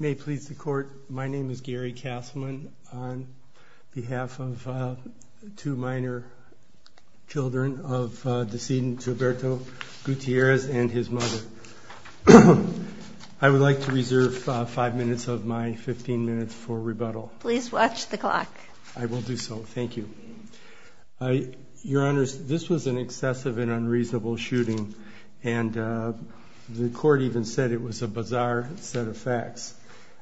May it please the Court, my name is Gary Kasselman on behalf of two minor children of decedent Gilberto Gutierrez and his mother. I would like to reserve five minutes of my fifteen minutes for rebuttal. Please watch the clock. I will do so, thank you. Your Honor, this was an excessive and unreasonable shooting and the Court even said it was a bizarre set of facts.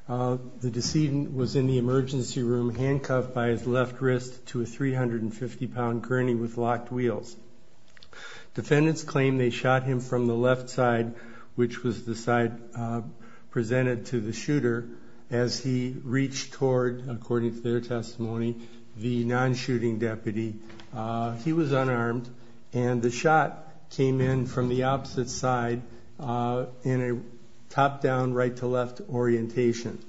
The decedent was in the emergency room handcuffed by his left wrist to a three hundred and fifty pound gurney with locked wheels. Defendants claim they shot him from the left side, which was the side presented to the shooter, as he reached toward, according to their testimony, the non-shooting deputy. He was unarmed and the shot came in from the opposite side in a top-down, right-to-left orientation.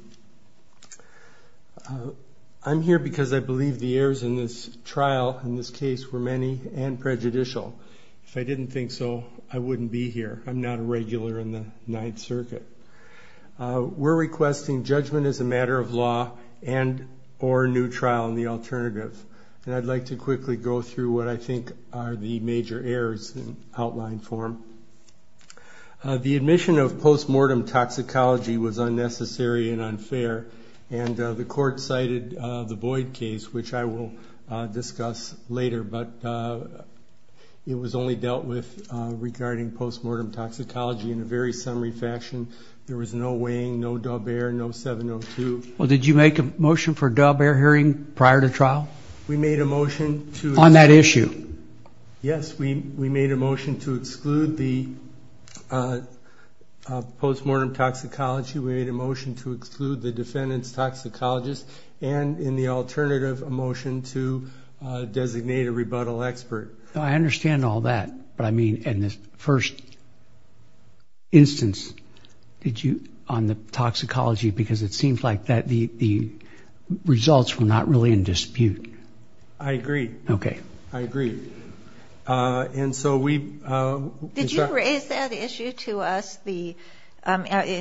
I'm here because I believe the errors in this trial, in this case, were many and prejudicial. If I didn't think so, I wouldn't be here. I'm not a regular in the Ninth Circuit. We're requesting judgment as a matter of law and or a new trial in the alternative. I'd like to quickly go through what I think are the major errors in outline form. The admission of post-mortem toxicology was unnecessary and unfair. The Court cited the Boyd case, which I will discuss later, but it was only dealt with regarding post-mortem toxicology in a very summary fashion. There was no weighing, no dub air, no 702. Well, did you make a motion for dub air hearing prior to trial? On that issue? Yes, we made a motion to exclude the post-mortem toxicology. We made a motion to exclude the defendant's toxicologist and in the alternative, a motion to designate a rebuttal expert. I because it seems like the results were not really in dispute. I agree. I agree. Did you raise that issue to us? In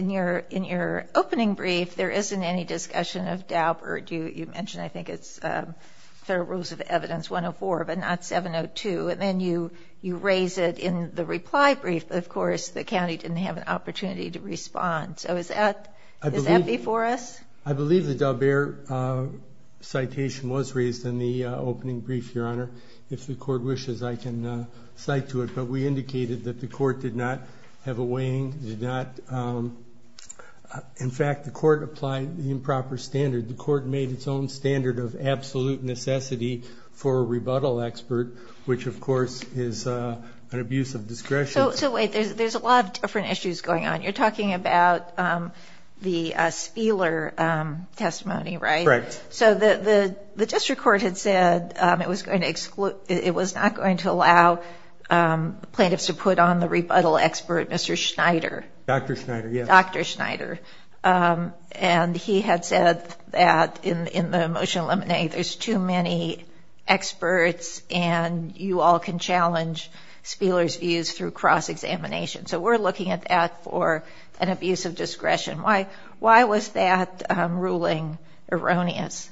your opening brief, there isn't any discussion of dub or you mentioned I think it's Federal Rules of Evidence 104, but not 702. Then you raise it in the reply brief. Of course, the county didn't have an opportunity to respond. So is that before us? I believe the dub air citation was raised in the opening brief, Your Honor. If the Court wishes, I can cite to it, but we indicated that the Court did not have a weighing. In fact, the Court applied the improper standard. The Court made its own standard of absolute necessity for a rebuttal expert, which of course is an abuse of discretion. So wait, there's a lot of different issues going on. You're talking about the Spheeler testimony, right? Correct. So the district court had said it was not going to allow plaintiffs to put on the rebuttal expert, Mr. Schneider. Dr. Schneider, and he had said that in the motion eliminating, there's too many experts and you all can challenge Spheeler's views through cross-examination. So we're looking at that for an abuse of discretion. Why was that ruling erroneous?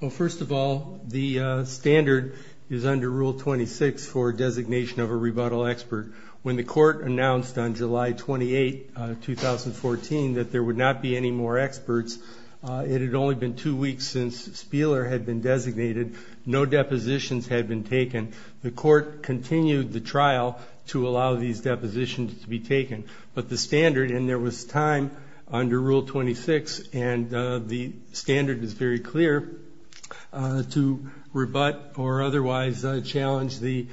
Well, first of all, the standard is under Rule 26 for designation of a rebuttal expert. When the Court announced on July 28, 2014, that there would not be any more experts, it had only been two weeks since Spheeler had been designated. No depositions had been taken. The Court continued the trial to allow these depositions to be taken. But the standard, and there was time under Rule 26, and the standard is very clear, to rebut or otherwise challenge the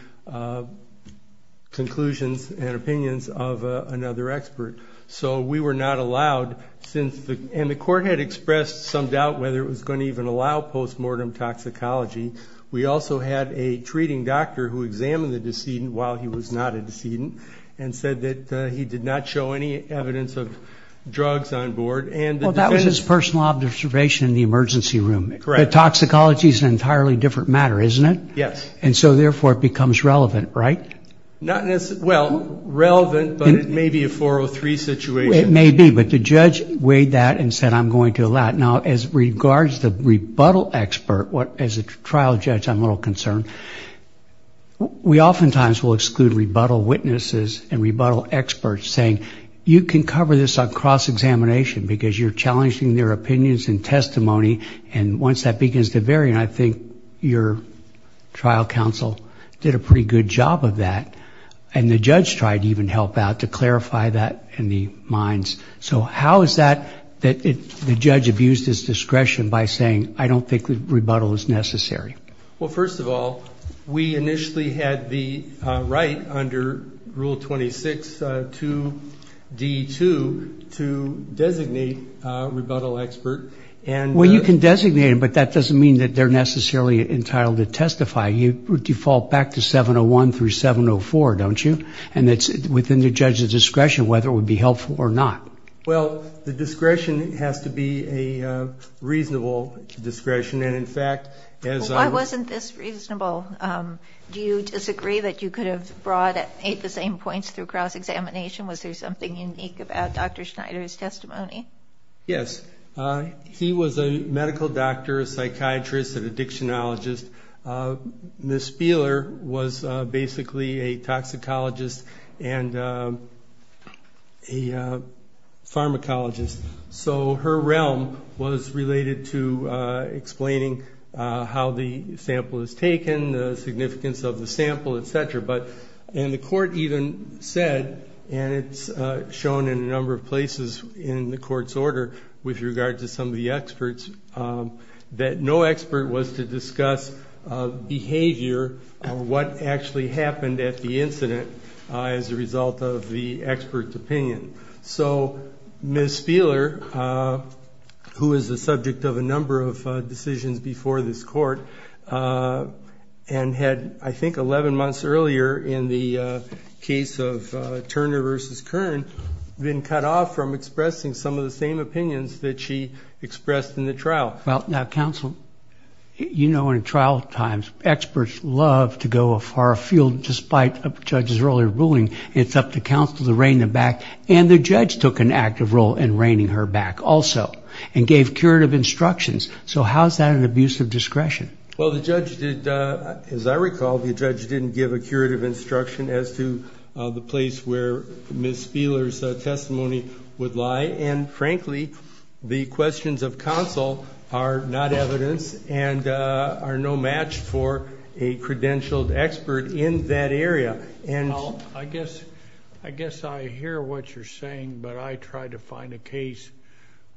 conclusions and opinions of another expert. So we were not allowed, and the Court had expressed some doubt whether it was going to even allow postmortem toxicology. We also had a treating doctor who examined the decedent while he was not a decedent and said that he did not show any evidence of drugs on board. Well, that was his personal observation in the emergency room. But toxicology is an entirely different matter, isn't it? Yes. And so therefore, it becomes relevant, right? Well, relevant, but it may be a 403 situation. It may be, but the judge weighed that and said, I'm going to allow it. Now, as regards the rebuttal expert, as a trial judge, I'm a little concerned. We oftentimes will exclude rebuttal witnesses and rebuttal experts saying, you can cover this on and once that begins to vary, and I think your trial counsel did a pretty good job of that, and the judge tried to even help out to clarify that in the minds. So how is that, that the judge abused his discretion by saying, I don't think rebuttal is necessary? Well, first of all, we initially had the right under Rule 26, 2D2, to designate a rebuttal expert and... Well, you can designate them, but that doesn't mean that they're necessarily entitled to testify. You default back to 701 through 704, don't you? And it's within the judge's discretion whether it would be helpful or not. Well, the discretion has to be a reasonable discretion. And in fact, as a... Why wasn't this reasonable? Do you disagree that you could have brought eight the same points through cross-examination? Was there something unique about Dr. Schneider's testimony? Yes. He was a medical doctor, a psychiatrist, an addictionologist. Ms. Spieler was basically a toxicologist and a pharmacologist. So her realm was related to explaining how the sample is taken, the significance of the sample, etc. But... And the court even said, and it's shown in a number of places in the court's order with regard to some of the experts, that no expert was to discuss behavior or what actually happened at the incident as a result of the expert's opinion. So Ms. Spieler, who was the subject of a number of decisions before this court, and had, I think, 11 months earlier in the case of Turner v. Kern, been cut off from expressing some of the same opinions that she expressed in the trial. Well, now, counsel, you know in trial times, experts love to go a far field, despite a judge's earlier ruling. It's up to counsel to rein them back. And the judge took an active role in reining her back also, and gave curative instructions. So how is that an abuse of discretion? Well, the judge did, as I recall, the judge didn't give a curative instruction as to the place where Ms. Spieler's testimony would lie. And frankly, the questions of counsel are not evidence and are no match for a credentialed expert in that area. I guess I hear what you're saying, but I tried to find a case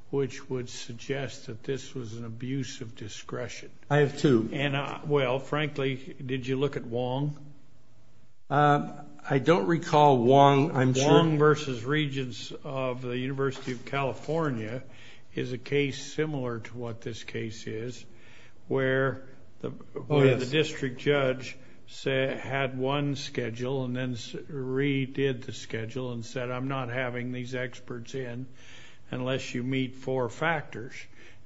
which would suggest that this was an abuse of discretion. I have two. And well, frankly, did you look at Wong? I don't recall Wong. Wong v. Regents of the University of California is a case similar to what this case is, where the district judge had one schedule and then redid the schedule and said, I'm not having these experts in unless you meet four factors.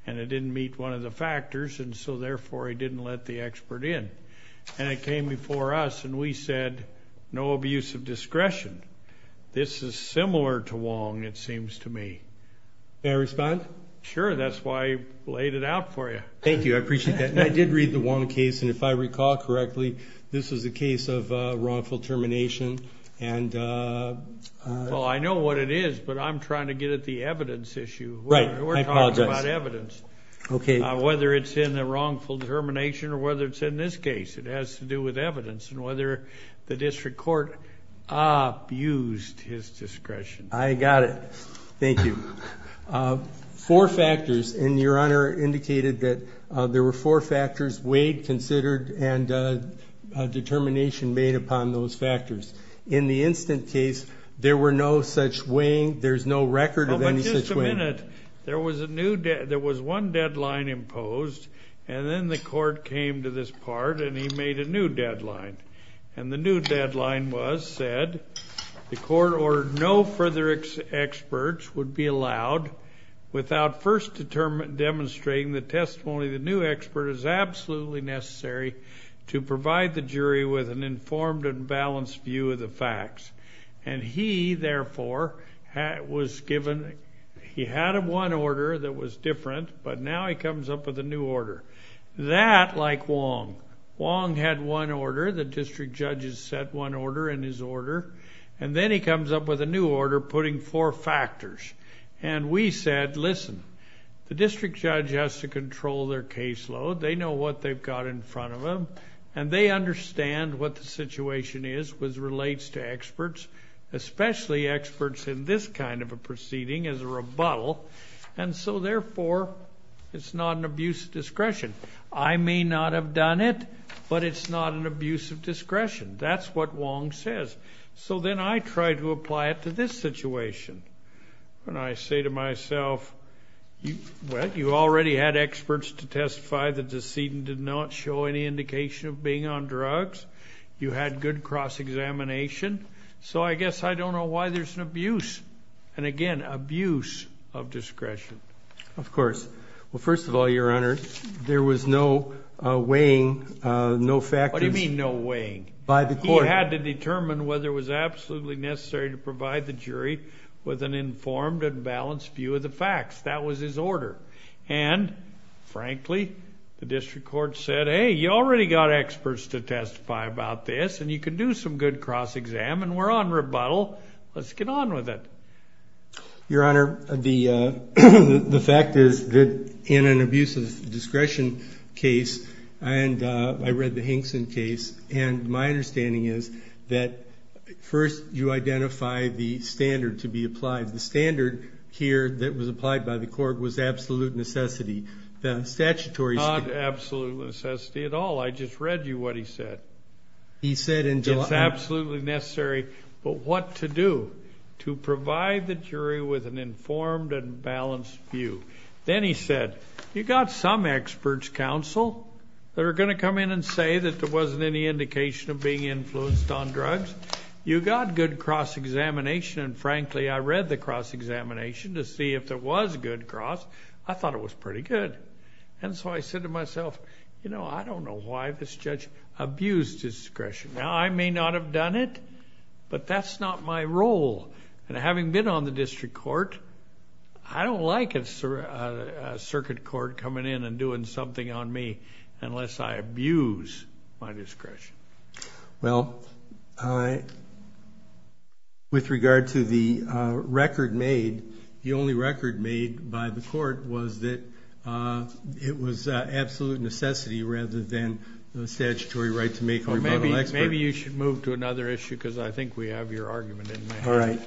And it didn't meet one of the factors, and so therefore, he didn't let the expert in. And it came before us and we said, no abuse of discretion. This is similar to Wong, it seems to me. May I respond? Sure, that's why I laid it out for you. Thank you. I appreciate that. And I did read the Wong case, and if I recall correctly, this was a case of wrongful termination. And well, I know what it is, but I'm trying to get at the evidence issue. Right. We're talking about evidence. Okay. Whether it's in the wrongful determination or whether it's in this case. It has to do with evidence and whether the district court abused his discretion. I got it. Thank you. Four factors, and your honor indicated that there were four factors, weighed, considered, and a determination made upon those factors. In the instant case, there were no such weighing, there's no record of any such weighing. Oh, but just a minute. There was one deadline imposed, and then the court came to this part and he made a new deadline. And the new deadline was, said, the court ordered no further experts would be allowed without first demonstrating the testimony of the new expert is absolutely necessary to provide the jury with an informed and balanced view of the facts. And he, therefore, was given, he had one order that was different, but now he comes up with a new order. That, like Wong. Wong had one order, the district judge has set one order in his order, and then he comes up with a new order putting four factors. And we said, listen, the district judge has to control their caseload. They know what they've got in front of them, and they understand what the situation is which relates to experts, especially experts in this kind of a proceeding as a rebuttal. And so, therefore, it's not an abuse of discretion. I may not have done it, but it's not an abuse of discretion. That's what Wong says. So then I try to apply it to this situation. When I say to myself, well, you already had experts to testify the decedent did not show any indication of being on drugs. You had good cross-examination. So I guess I don't know why there's an abuse. And again, abuse of discretion. Of course. Well, first of all, Your Honor, there was no weighing, no factors. What do you mean no weighing? By the court. He had to determine whether it was absolutely necessary to provide the jury with an informed and balanced view of the facts. That was his order. And frankly, the district court said, hey, you already got experts to testify about this, and you can do some good cross-exam, and we're on rebuttal. Let's get on with it. Your Honor, the fact is that in an abuse of discretion case, and I read the Hinkson case, and my understanding is that first you identify the standard to be applied. The standard here that was applied by the court was absolute necessity. The statutory standard. Not absolute necessity at all. I just read you what he said. He said in July. It's absolutely necessary. But what to do? To provide the jury with an informed and balanced view. Then he said, you got some experts counsel that are going to come in and say that there wasn't any indication of being influenced on drugs. You got good cross-examination, and frankly, I read the cross-examination to see if there was good cross. I thought it was pretty good. And so I said to myself, you know, I don't know why this judge abused discretion. Now, I may not have done it, but that's not my role. And having been on the district court, I don't like a circuit court coming in and doing something on me unless I abuse my discretion. Well, with regard to the record made, the only record made by the court was that it was absolute necessity rather than the statutory right to make Maybe you should move to another issue because I think we have your argument in mind. All right.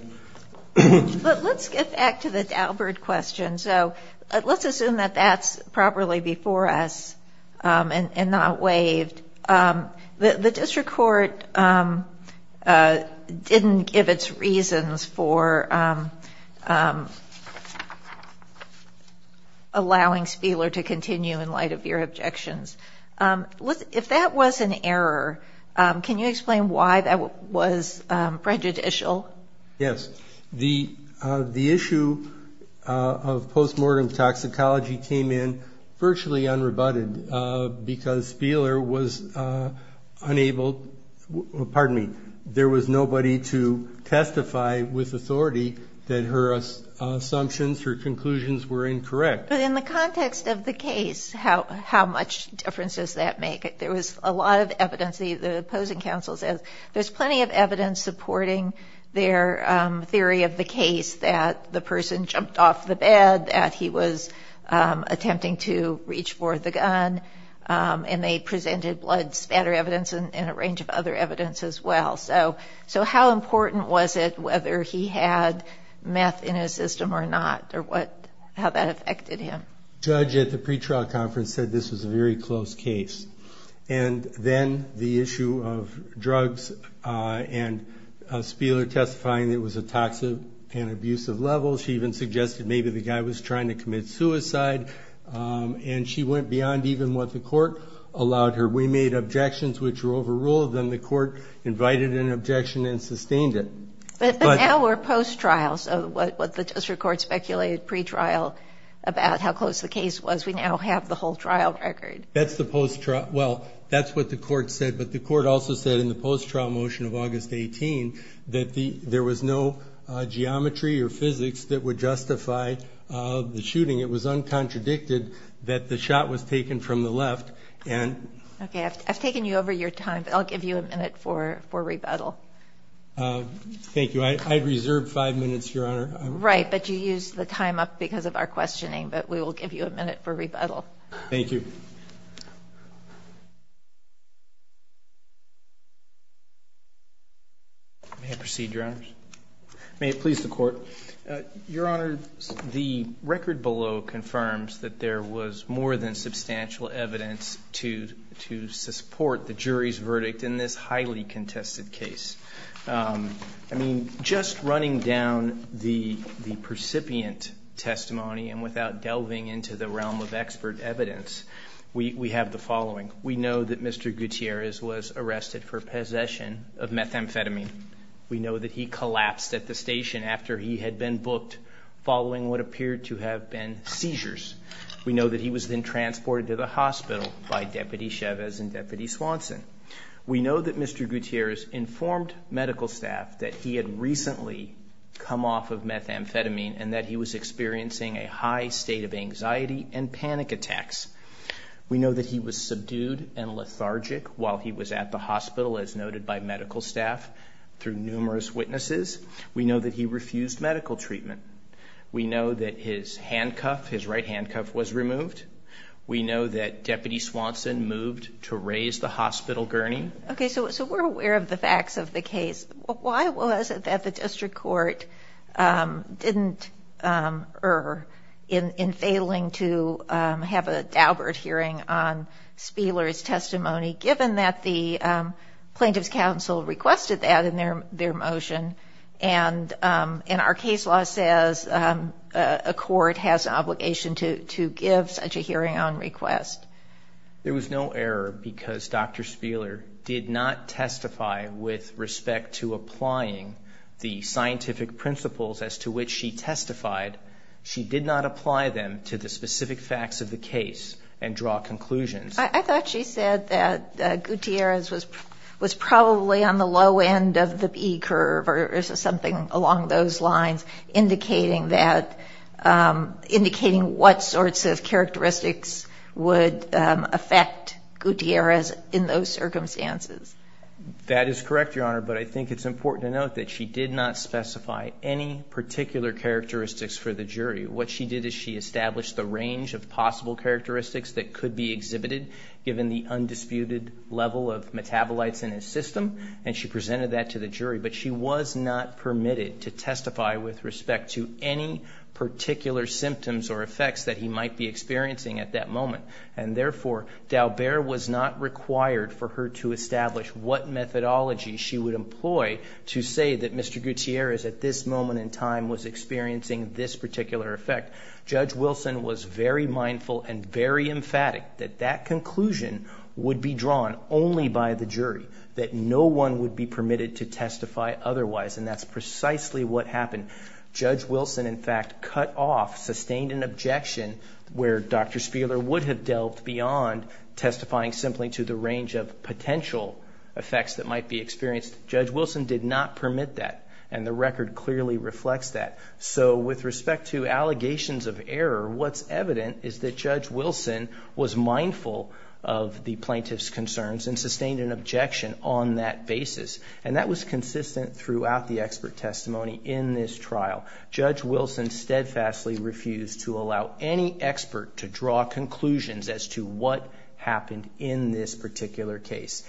But let's get back to the Daubert question. So let's assume that that's properly before us and not waived. The district court didn't give its reasons for allowing Spieler to continue in light of your objections. If that was an error, can you explain why that was prejudicial? Yes. The issue of postmortem toxicology came in virtually unrebutted because Spieler was unable, pardon me, there was nobody to testify with authority that her assumptions, her conclusions were incorrect. But in the context of the case, how much difference does that make? There was a lot of evidence. The opposing counsel says there's plenty of evidence supporting their theory of the case that the person jumped off the bed, that he was attempting to reach for the gun, and they presented blood spatter evidence and a range of other evidence as well. So how important was it whether he had meth in his system or not or how that affected him? The judge at the pretrial conference said this was a very close case. And then the issue of drugs and Spieler testifying that it was a toxic and abusive level. She even suggested maybe the guy was trying to commit suicide. And she went beyond even what the court allowed her. We made objections which were overruled. Then the court invited an objection and sustained it. But now we're post-trial. So what the district court speculated pretrial about how close the case was, we now have the whole trial record. That's the post-trial. Well, that's what the court said. But the court also said in the post-trial motion of August 18 that there was no geometry or physics that would justify the shooting. It was uncontradicted that the shot was taken from the left. Okay, I've taken you over your time. But I'll give you a minute for rebuttal. Thank you. I'd reserve five minutes, Your Honor. Right, but you used the time up because of our questioning. But we will give you a minute for rebuttal. Thank you. May I proceed, Your Honors? May it please the court. Your Honor, the record below confirms that there was more than substantial evidence to support the jury's verdict in this highly contested case. I mean, just running down the percipient testimony and without delving into the realm of expert evidence, we have the following. We know that Mr. Gutierrez was arrested for possession of methamphetamine. We know that he collapsed at the station after he had been booked following what appeared to have been seizures. We know that he was then transported to the hospital by Deputy Chavez and Deputy Swanson. We know that Mr. Gutierrez informed medical staff that he had recently come off of methamphetamine and that he was experiencing a high state of anxiety and panic attacks. We know that he was subdued and lethargic while he was at the hospital as noted by medical staff through numerous witnesses. We know that he refused medical treatment. We know that his handcuff, his right handcuff, was removed. We know that Deputy Swanson moved to raise the hospital gurney. Okay, so we're aware of the facts of the case. Why was it that the district court didn't, or in failing to have a Daubert hearing on Spieler's testimony, given that the Plaintiff's Council requested that in their motion? And our case law says a court has an obligation to give such a hearing on request. There was no error because Dr. Spieler did not testify with respect to applying the scientific principles as to which she testified. She did not apply them to the specific facts of the case and draw conclusions. I thought she said that Gutierrez was probably on the low end of the B curve or something along those lines indicating that, indicating what sorts of characteristics would affect Gutierrez in those circumstances. That is correct, Your Honor, but I think it's important to note that she did not specify any particular characteristics for the jury. What she did is she established the range of possible characteristics that could be exhibited given the undisputed level of metabolites in his system and she presented that to the jury, but she was not permitted to testify with respect to any particular symptoms or effects that he might be experiencing at that moment. And therefore, Daubert was not required for her to establish what methodology she would employ to say that Mr. Gutierrez at this moment in time was experiencing this particular effect. Judge Wilson was very mindful and very emphatic that that conclusion would be drawn only by the jury, that no one would be permitted to testify otherwise, and that's precisely what happened. Judge Wilson, in fact, cut off, sustained an objection where Dr. Spieler would have delved beyond testifying simply to the range of potential effects that might be experienced. Judge Wilson did not permit that and the record clearly reflects that. So with respect to allegations of error, what's evident is that Judge Wilson was mindful of the plaintiff's concerns and sustained an objection on that basis. And that was consistent throughout the expert testimony in this trial. Judge Wilson steadfastly refused to allow any expert to draw conclusions as to what happened in this particular case.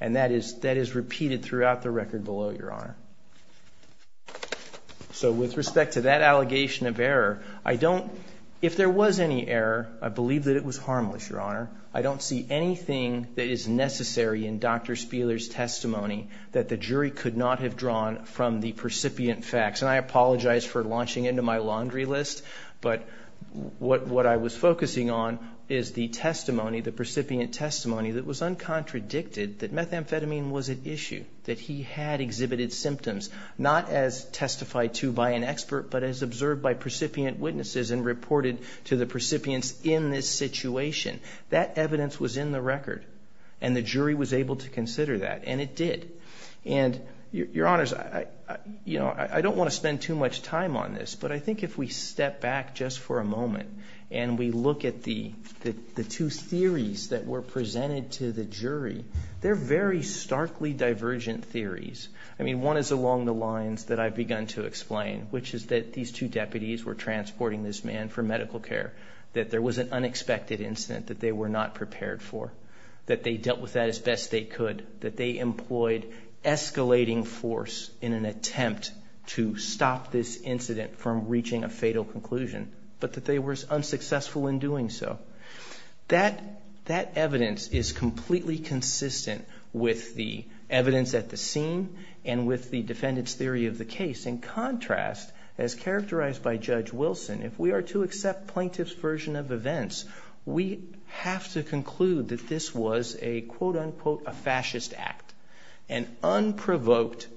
And that is repeated throughout the record below, Your Honor. So with respect to that allegation of error, I don't, if there was any error, I believe that it was harmless, Your Honor. I don't see anything that is necessary in Dr. Spieler's testimony that the jury could not have drawn from the percipient facts. And I apologize for launching into my laundry list, but what I was focusing on is the testimony, the percipient testimony that was uncontradicted, that methamphetamine was at issue, that he had exhibited symptoms, not as testified to by an expert, but as observed by percipient witnesses and reported to the percipients in this situation. That evidence was in the record. And the jury was able to consider that. And it did. And, Your Honors, I don't want to spend too much time on this, but I think if we step back just for a moment and we look at the two theories that were presented to the jury, they're very starkly divergent theories. I mean, one is along the lines that I've begun to explain, which is that these two deputies were transporting this man for medical care, that there was an unexpected incident that they were not prepared for, that they dealt with that as best they could, that they employed escalating force in an attempt to stop this incident from reaching a fatal conclusion, but that they were unsuccessful in doing so. That evidence is completely consistent with the evidence at the scene and with the defendant's theory of the case. In contrast, as characterized by Judge Wilson, if we are to accept plaintiff's version of events, we have to conclude that this was a, quote, unquote, a fascist act, an unprovoked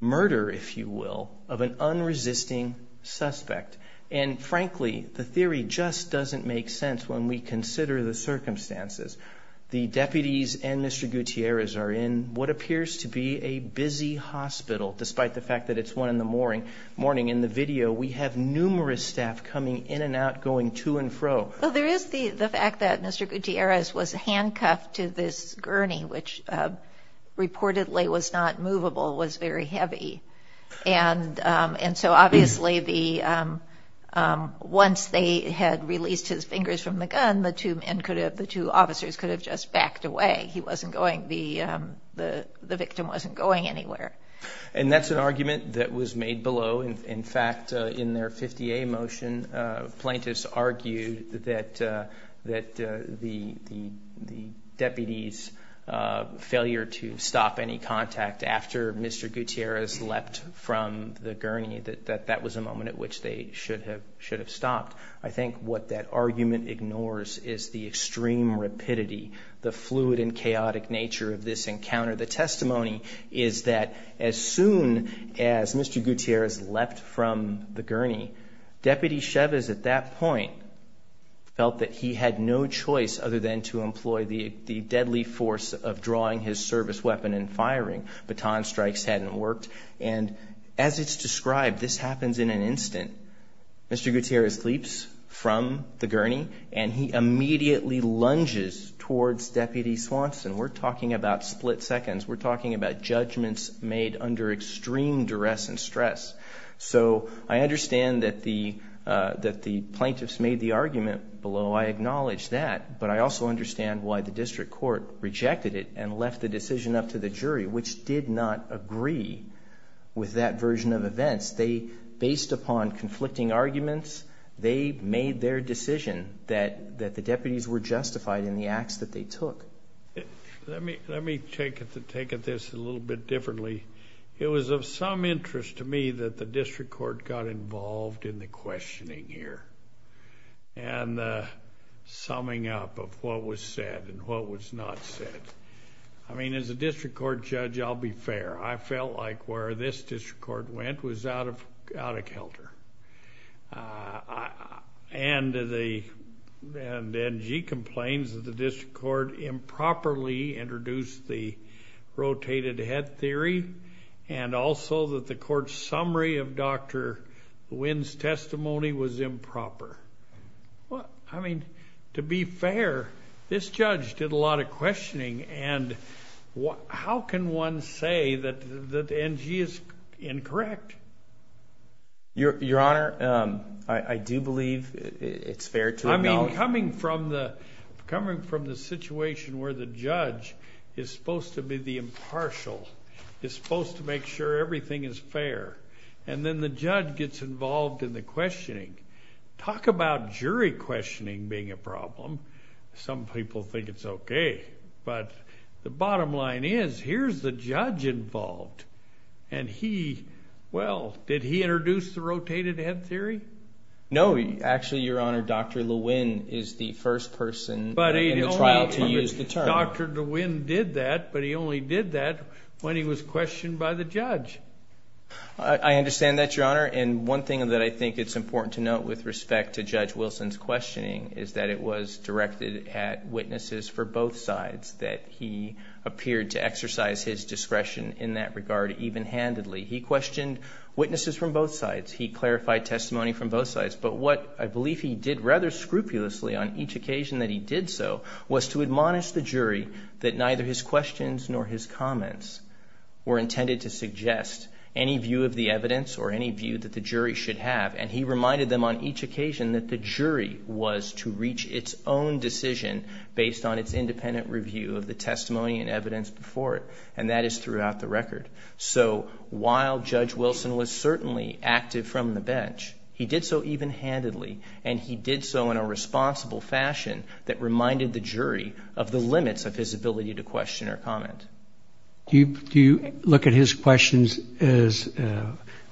murder, if you will, of an unresisting suspect. And frankly, the theory just doesn't make sense when we consider the circumstances. The deputies and Mr. Gutierrez are in what appears to be a busy hospital, despite the fact that it's one in the morning. In the video, we have numerous staff coming in and out, going to and fro. Well, there is the fact that Mr. Gutierrez was handcuffed to this gurney, which reportedly was not movable, was very heavy. And so obviously, once they had released his fingers from the gun, the two officers could have just backed away. He wasn't going, the victim wasn't going anywhere. And that's an argument that was made below. In fact, in their 50A motion, plaintiffs argued that the deputies' failure to stop any contact after Mr. Gutierrez leapt from the gurney, that that was a moment at which they should have stopped. I think what that argument ignores is the extreme rapidity, the fluid and chaotic nature of this encounter. The testimony is that as soon as Mr. Gutierrez leapt from the gurney, Deputy Chavez at that point felt that he had no choice other than to employ the deadly force of drawing his service weapon and firing. Baton strikes hadn't worked. And as it's described, this happens in an instant. Mr. Gutierrez leaps from the gurney, and he immediately lunges towards Deputy Swanson. We're talking about split seconds. We're talking about judgments made under extreme duress and stress. So I understand that the plaintiffs made the argument below. I acknowledge that. But I also understand why the district court rejected it and left the decision up to the jury, which did not agree with that version of events. They, based upon conflicting arguments, they made their decision that the deputies were justified in the acts that they took. Let me take this a little bit differently. It was of some interest to me that the district court got involved in the questioning here and the summing up of what was said and what was not said. I mean, as a district court judge, I'll be fair. I felt like where this district court went was out of counter. And the NG complains that the district court improperly introduced the rotated head theory, and also that the court's summary of Dr. Nguyen's testimony was improper. Well, I mean, to be fair, this judge did a lot of questioning. And how can one say that NG is incorrect? Your Honor, I do believe it's fair to acknowledge... I mean, coming from the situation where the judge is supposed to be the impartial, is supposed to make sure everything is fair, and then the judge gets involved in the questioning. Talk about jury questioning being a problem. Some people think it's okay. But the bottom line is, here's the judge involved. And he, well, did he introduce the rotated head theory? No. Actually, Your Honor, Dr. Nguyen is the first person in the trial to use the term. But Dr. Nguyen did that, but he only did that when he was questioned by the judge. I understand that, Your Honor. And one thing that I think it's important to note with respect to Judge Wilson's questioning is that it was directed at witnesses for both He questioned witnesses from both sides. He clarified testimony from both sides. But what I believe he did rather scrupulously on each occasion that he did so was to admonish the jury that neither his questions nor his comments were intended to suggest any view of the evidence or any view that the jury should have. And he reminded them on each occasion that the jury was to reach its own decision based on its independent review of the testimony and evidence before it. And that is throughout the record. So while Judge Wilson was certainly active from the bench, he did so even-handedly. And he did so in a responsible fashion that reminded the jury of the limits of his ability to question or comment. Do you look at his questions as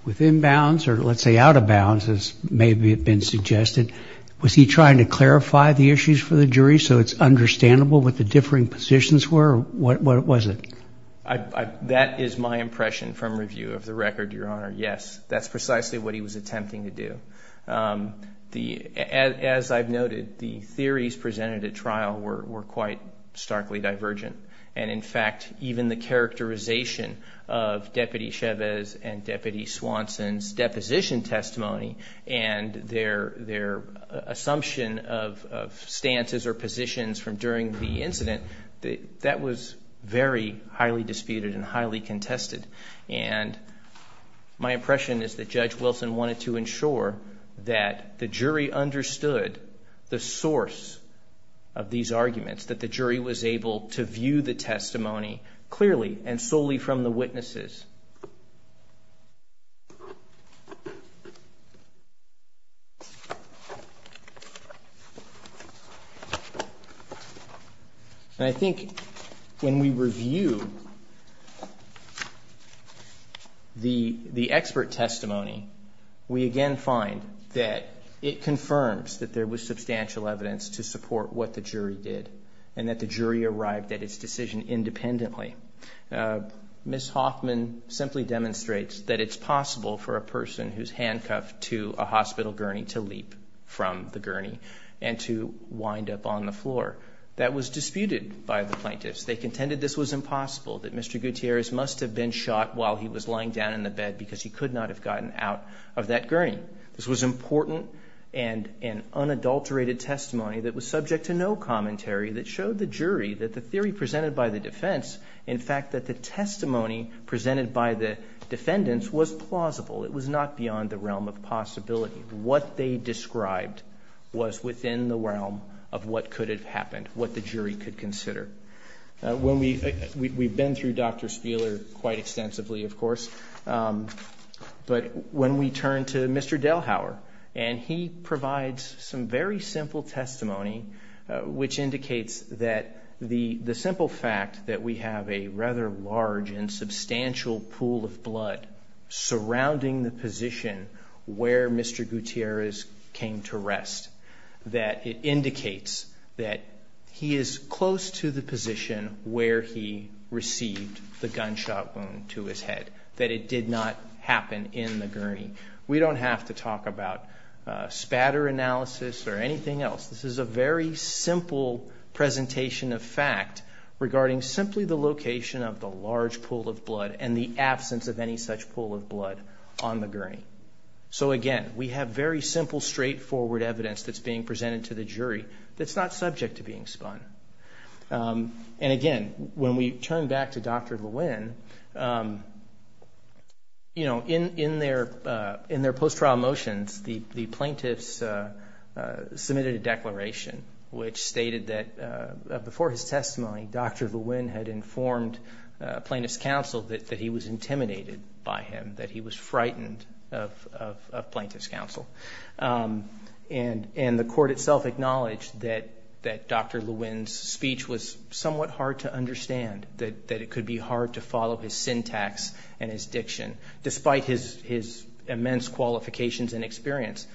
within bounds or, let's say, out of bounds as may have been suggested? Was he trying to clarify the issues for the jury so it's understandable what the differing positions were? What was it? That is my impression from review of the record, Your Honor. Yes, that's precisely what he was attempting to do. As I've noted, the theories presented at trial were quite starkly divergent. And in fact, even the characterization of Deputy Chavez and Deputy Swanson's deposition testimony and their assumption of stances or statements was very highly disputed and highly contested. And my impression is that Judge Wilson wanted to ensure that the jury understood the source of these arguments, that the jury was able to view the testimony clearly and solely from the witnesses. And I think when we review the expert testimony, we again find that it confirms that there was substantial evidence to support what the jury did and that the jury arrived at its decision independently. This testimony simply demonstrates that it's possible for a person who's handcuffed to a hospital gurney to leap from the gurney and to wind up on the floor. That was disputed by the plaintiffs. They contended this was impossible, that Mr. Gutierrez must have been shot while he was lying down in the bed because he could not have gotten out of that gurney. This was important and an unadulterated testimony that was subject to no commentary that showed the jury that the theory presented by the defense, in fact, that the testimony presented by the defendants was plausible. It was not beyond the realm of possibility. What they described was within the realm of what could have happened, what the jury could consider. We've been through Dr. Spieler quite extensively, of course, but when we turn to Mr. Delhauer, and he provides some very simple testimony which does have a rather large and substantial pool of blood surrounding the position where Mr. Gutierrez came to rest, that it indicates that he is close to the position where he received the gunshot wound to his head, that it did not happen in the gurney. We don't have to talk about spatter analysis or anything else. This is a very simple presentation of fact regarding simply the location of the large pool of blood and the absence of any such pool of blood on the gurney. So again, we have very simple straightforward evidence that's being presented to the jury that's not subject to being spun. And again, when we turn back to Dr. Lewin, in their post-trial motions, the plaintiffs submitted a declaration which stated that before his testimony, Dr. Lewin had informed plaintiff's counsel that he was intimidated by him, that he was frightened of plaintiff's counsel. And the court itself acknowledged that Dr. Lewin's speech was somewhat hard to understand, that it could be hard to follow his syntax and his experience.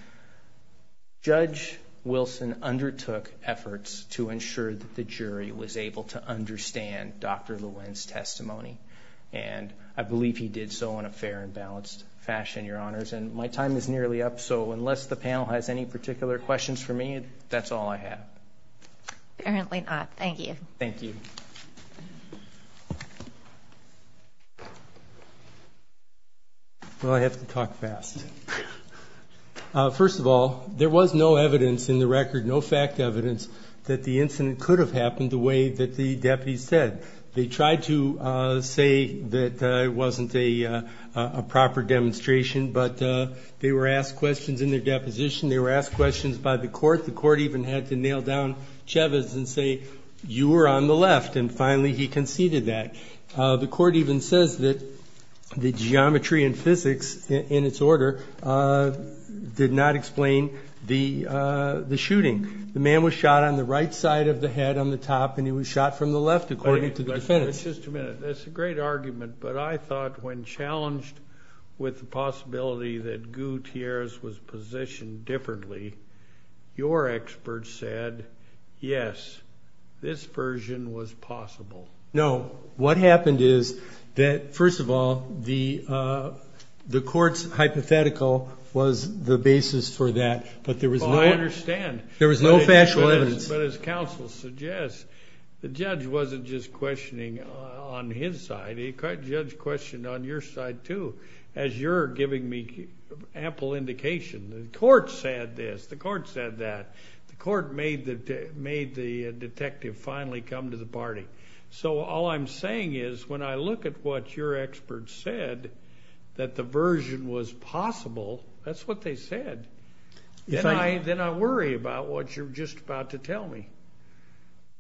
Judge Wilson undertook efforts to ensure that the jury was able to understand Dr. Lewin's testimony. And I believe he did so in a fair and balanced fashion, Your Honors. And my time is nearly up, so unless the panel has any particular questions for me, that's all I have. Apparently not. Thank you. Thank you. Well, I have to talk fast. First of all, there was no evidence in the record, no fact evidence, that the incident could have happened the way that the deputies said. They tried to say that it wasn't a proper demonstration, but they were asked questions in their deposition. They were asked questions by the court. The court even had to nail down Chavez and say, you were on the left. And finally, he conceded that. The court even says that the geometry and physics in its order did not explain the shooting. The man was shot on the right side of the head on the top, and he was shot from the left, according to the defense. Just a minute. That's a great argument, but I thought when challenged with the your experts said, yes, this version was possible. No, what happened is that, first of all, the court's hypothetical was the basis for that, but there was no factual evidence. But as counsel suggests, the judge wasn't just questioning on his side. The judge questioned on your side, too, as you're giving me ample indication. The court said this. The court said that. The court made the detective finally come to the party. So all I'm saying is, when I look at what your experts said, that the version was possible, that's what they said. Then I worry about what you're just about to tell me.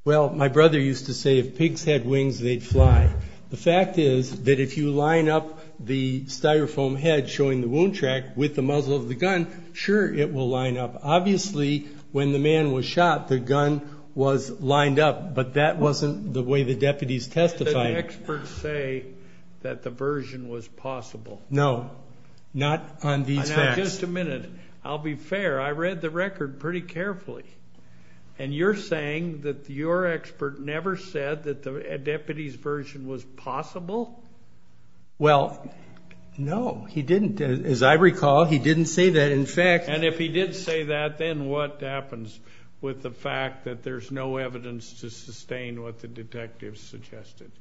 Well, my brother used to say, if pigs had wings, they'd fly. The fact is that if you line up the Styrofoam head showing the wound with the muzzle of the gun, sure, it will line up. Obviously, when the man was shot, the gun was lined up, but that wasn't the way the deputies testified. Did the experts say that the version was possible? No, not on these facts. Now, just a minute. I'll be fair. I read the record pretty carefully, and you're saying that your expert never said that the deputies' version was possible? Well, no, he didn't. As I recall, he didn't say that. In fact— And if he did say that, then what happens with the fact that there's no evidence to sustain what the detectives suggested?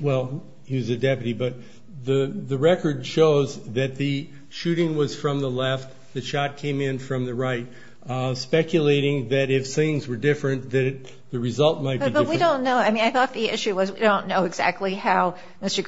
Well, he was a deputy, but the record shows that the shooting was from the left, the shot came in from the right, speculating that if things were different, that the result might be different. But we don't know. I mean, I thought the issue was we don't know exactly how Mr.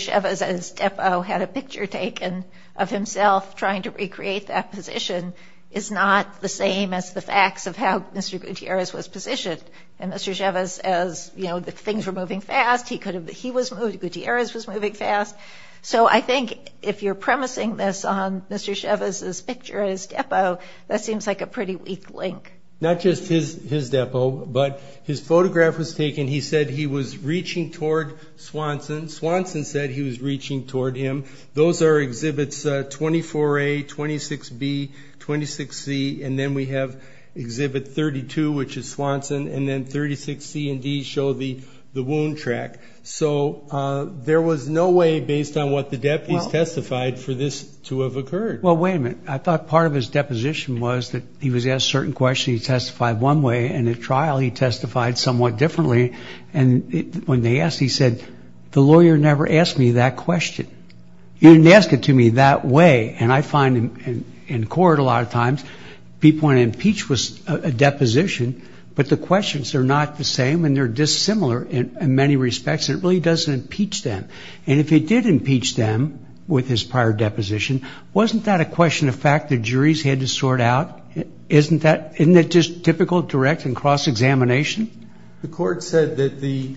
Chavez at his depot had a picture taken of himself trying to recreate that position is not the same as the facts of how Mr. Gutierrez was positioned. And Mr. Chavez, as you know, the things were moving fast, he could have—he was moving—Gutierrez was moving fast. So I think if you're premising this on Mr. Chavez's picture at his depot, that seems like a pretty weak link. Not just his depot, but his photograph was taken. He said he was reaching toward Swanson. Swanson said he was reaching toward him. Those are exhibits 24A, 26B, 26C, and then we have exhibit 32, which is Swanson, and then 36C and D show the wound track. So there was no way, based on what the deputies testified, for this to have occurred. Well, wait a minute. I thought part of his deposition was that he was asked a certain question, he testified one way, and at trial he testified somewhat differently, and when they asked, he said, the lawyer never asked me that question. He didn't ask it to me that way, and I find in court a lot of times, people want to impeach with a deposition, but the questions are not the same, and they're dissimilar in many respects, and it really doesn't impeach them. And if it did impeach them with his prior deposition, wasn't that a question of fact the juries had to sort out? Isn't that—isn't that just typical direct and cross-examination? The court said that the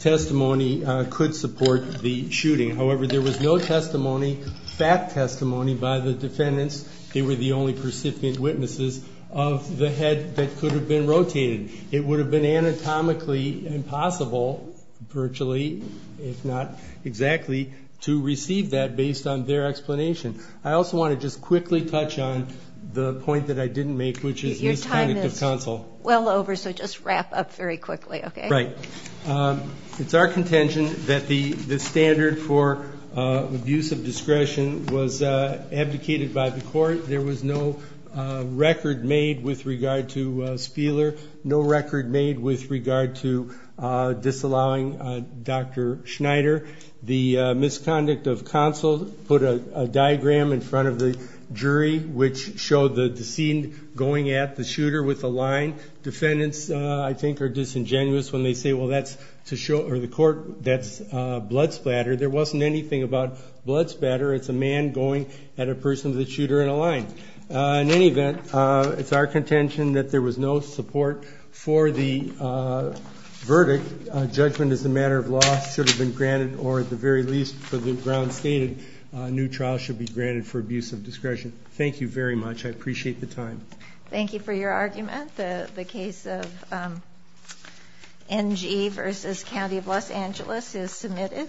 testimony could support the shooting. However, there was no testimony, fact testimony, by the defendants. They were the only percipient witnesses of the head that could have been rotated. It would have been anatomically impossible, virtually, if not exactly, to receive that based on their explanation. I also want to just quickly touch on the point that I didn't make, which is— Well over, so just wrap up very quickly, okay? Right. It's our contention that the standard for abuse of discretion was abdicated by the court. There was no record made with regard to Spieler, no record made with regard to disallowing Dr. Schneider. The misconduct of counsel put a diagram in front of the jury, which showed the scene going at the shooter with a line. Defendants, I think, are disingenuous when they say, well, that's to show—or the court, that's blood splatter. There wasn't anything about blood splatter. It's a man going at a person with a shooter and a line. In any event, it's our contention that there was no support for the verdict. Judgment as a matter of law should have been granted, or at the very least, for the grounds stated, a new trial should be granted for abuse of discretion. Thank you very much. I appreciate the time. Thank you for your argument. The case of NG v. County of Los Angeles is submitted.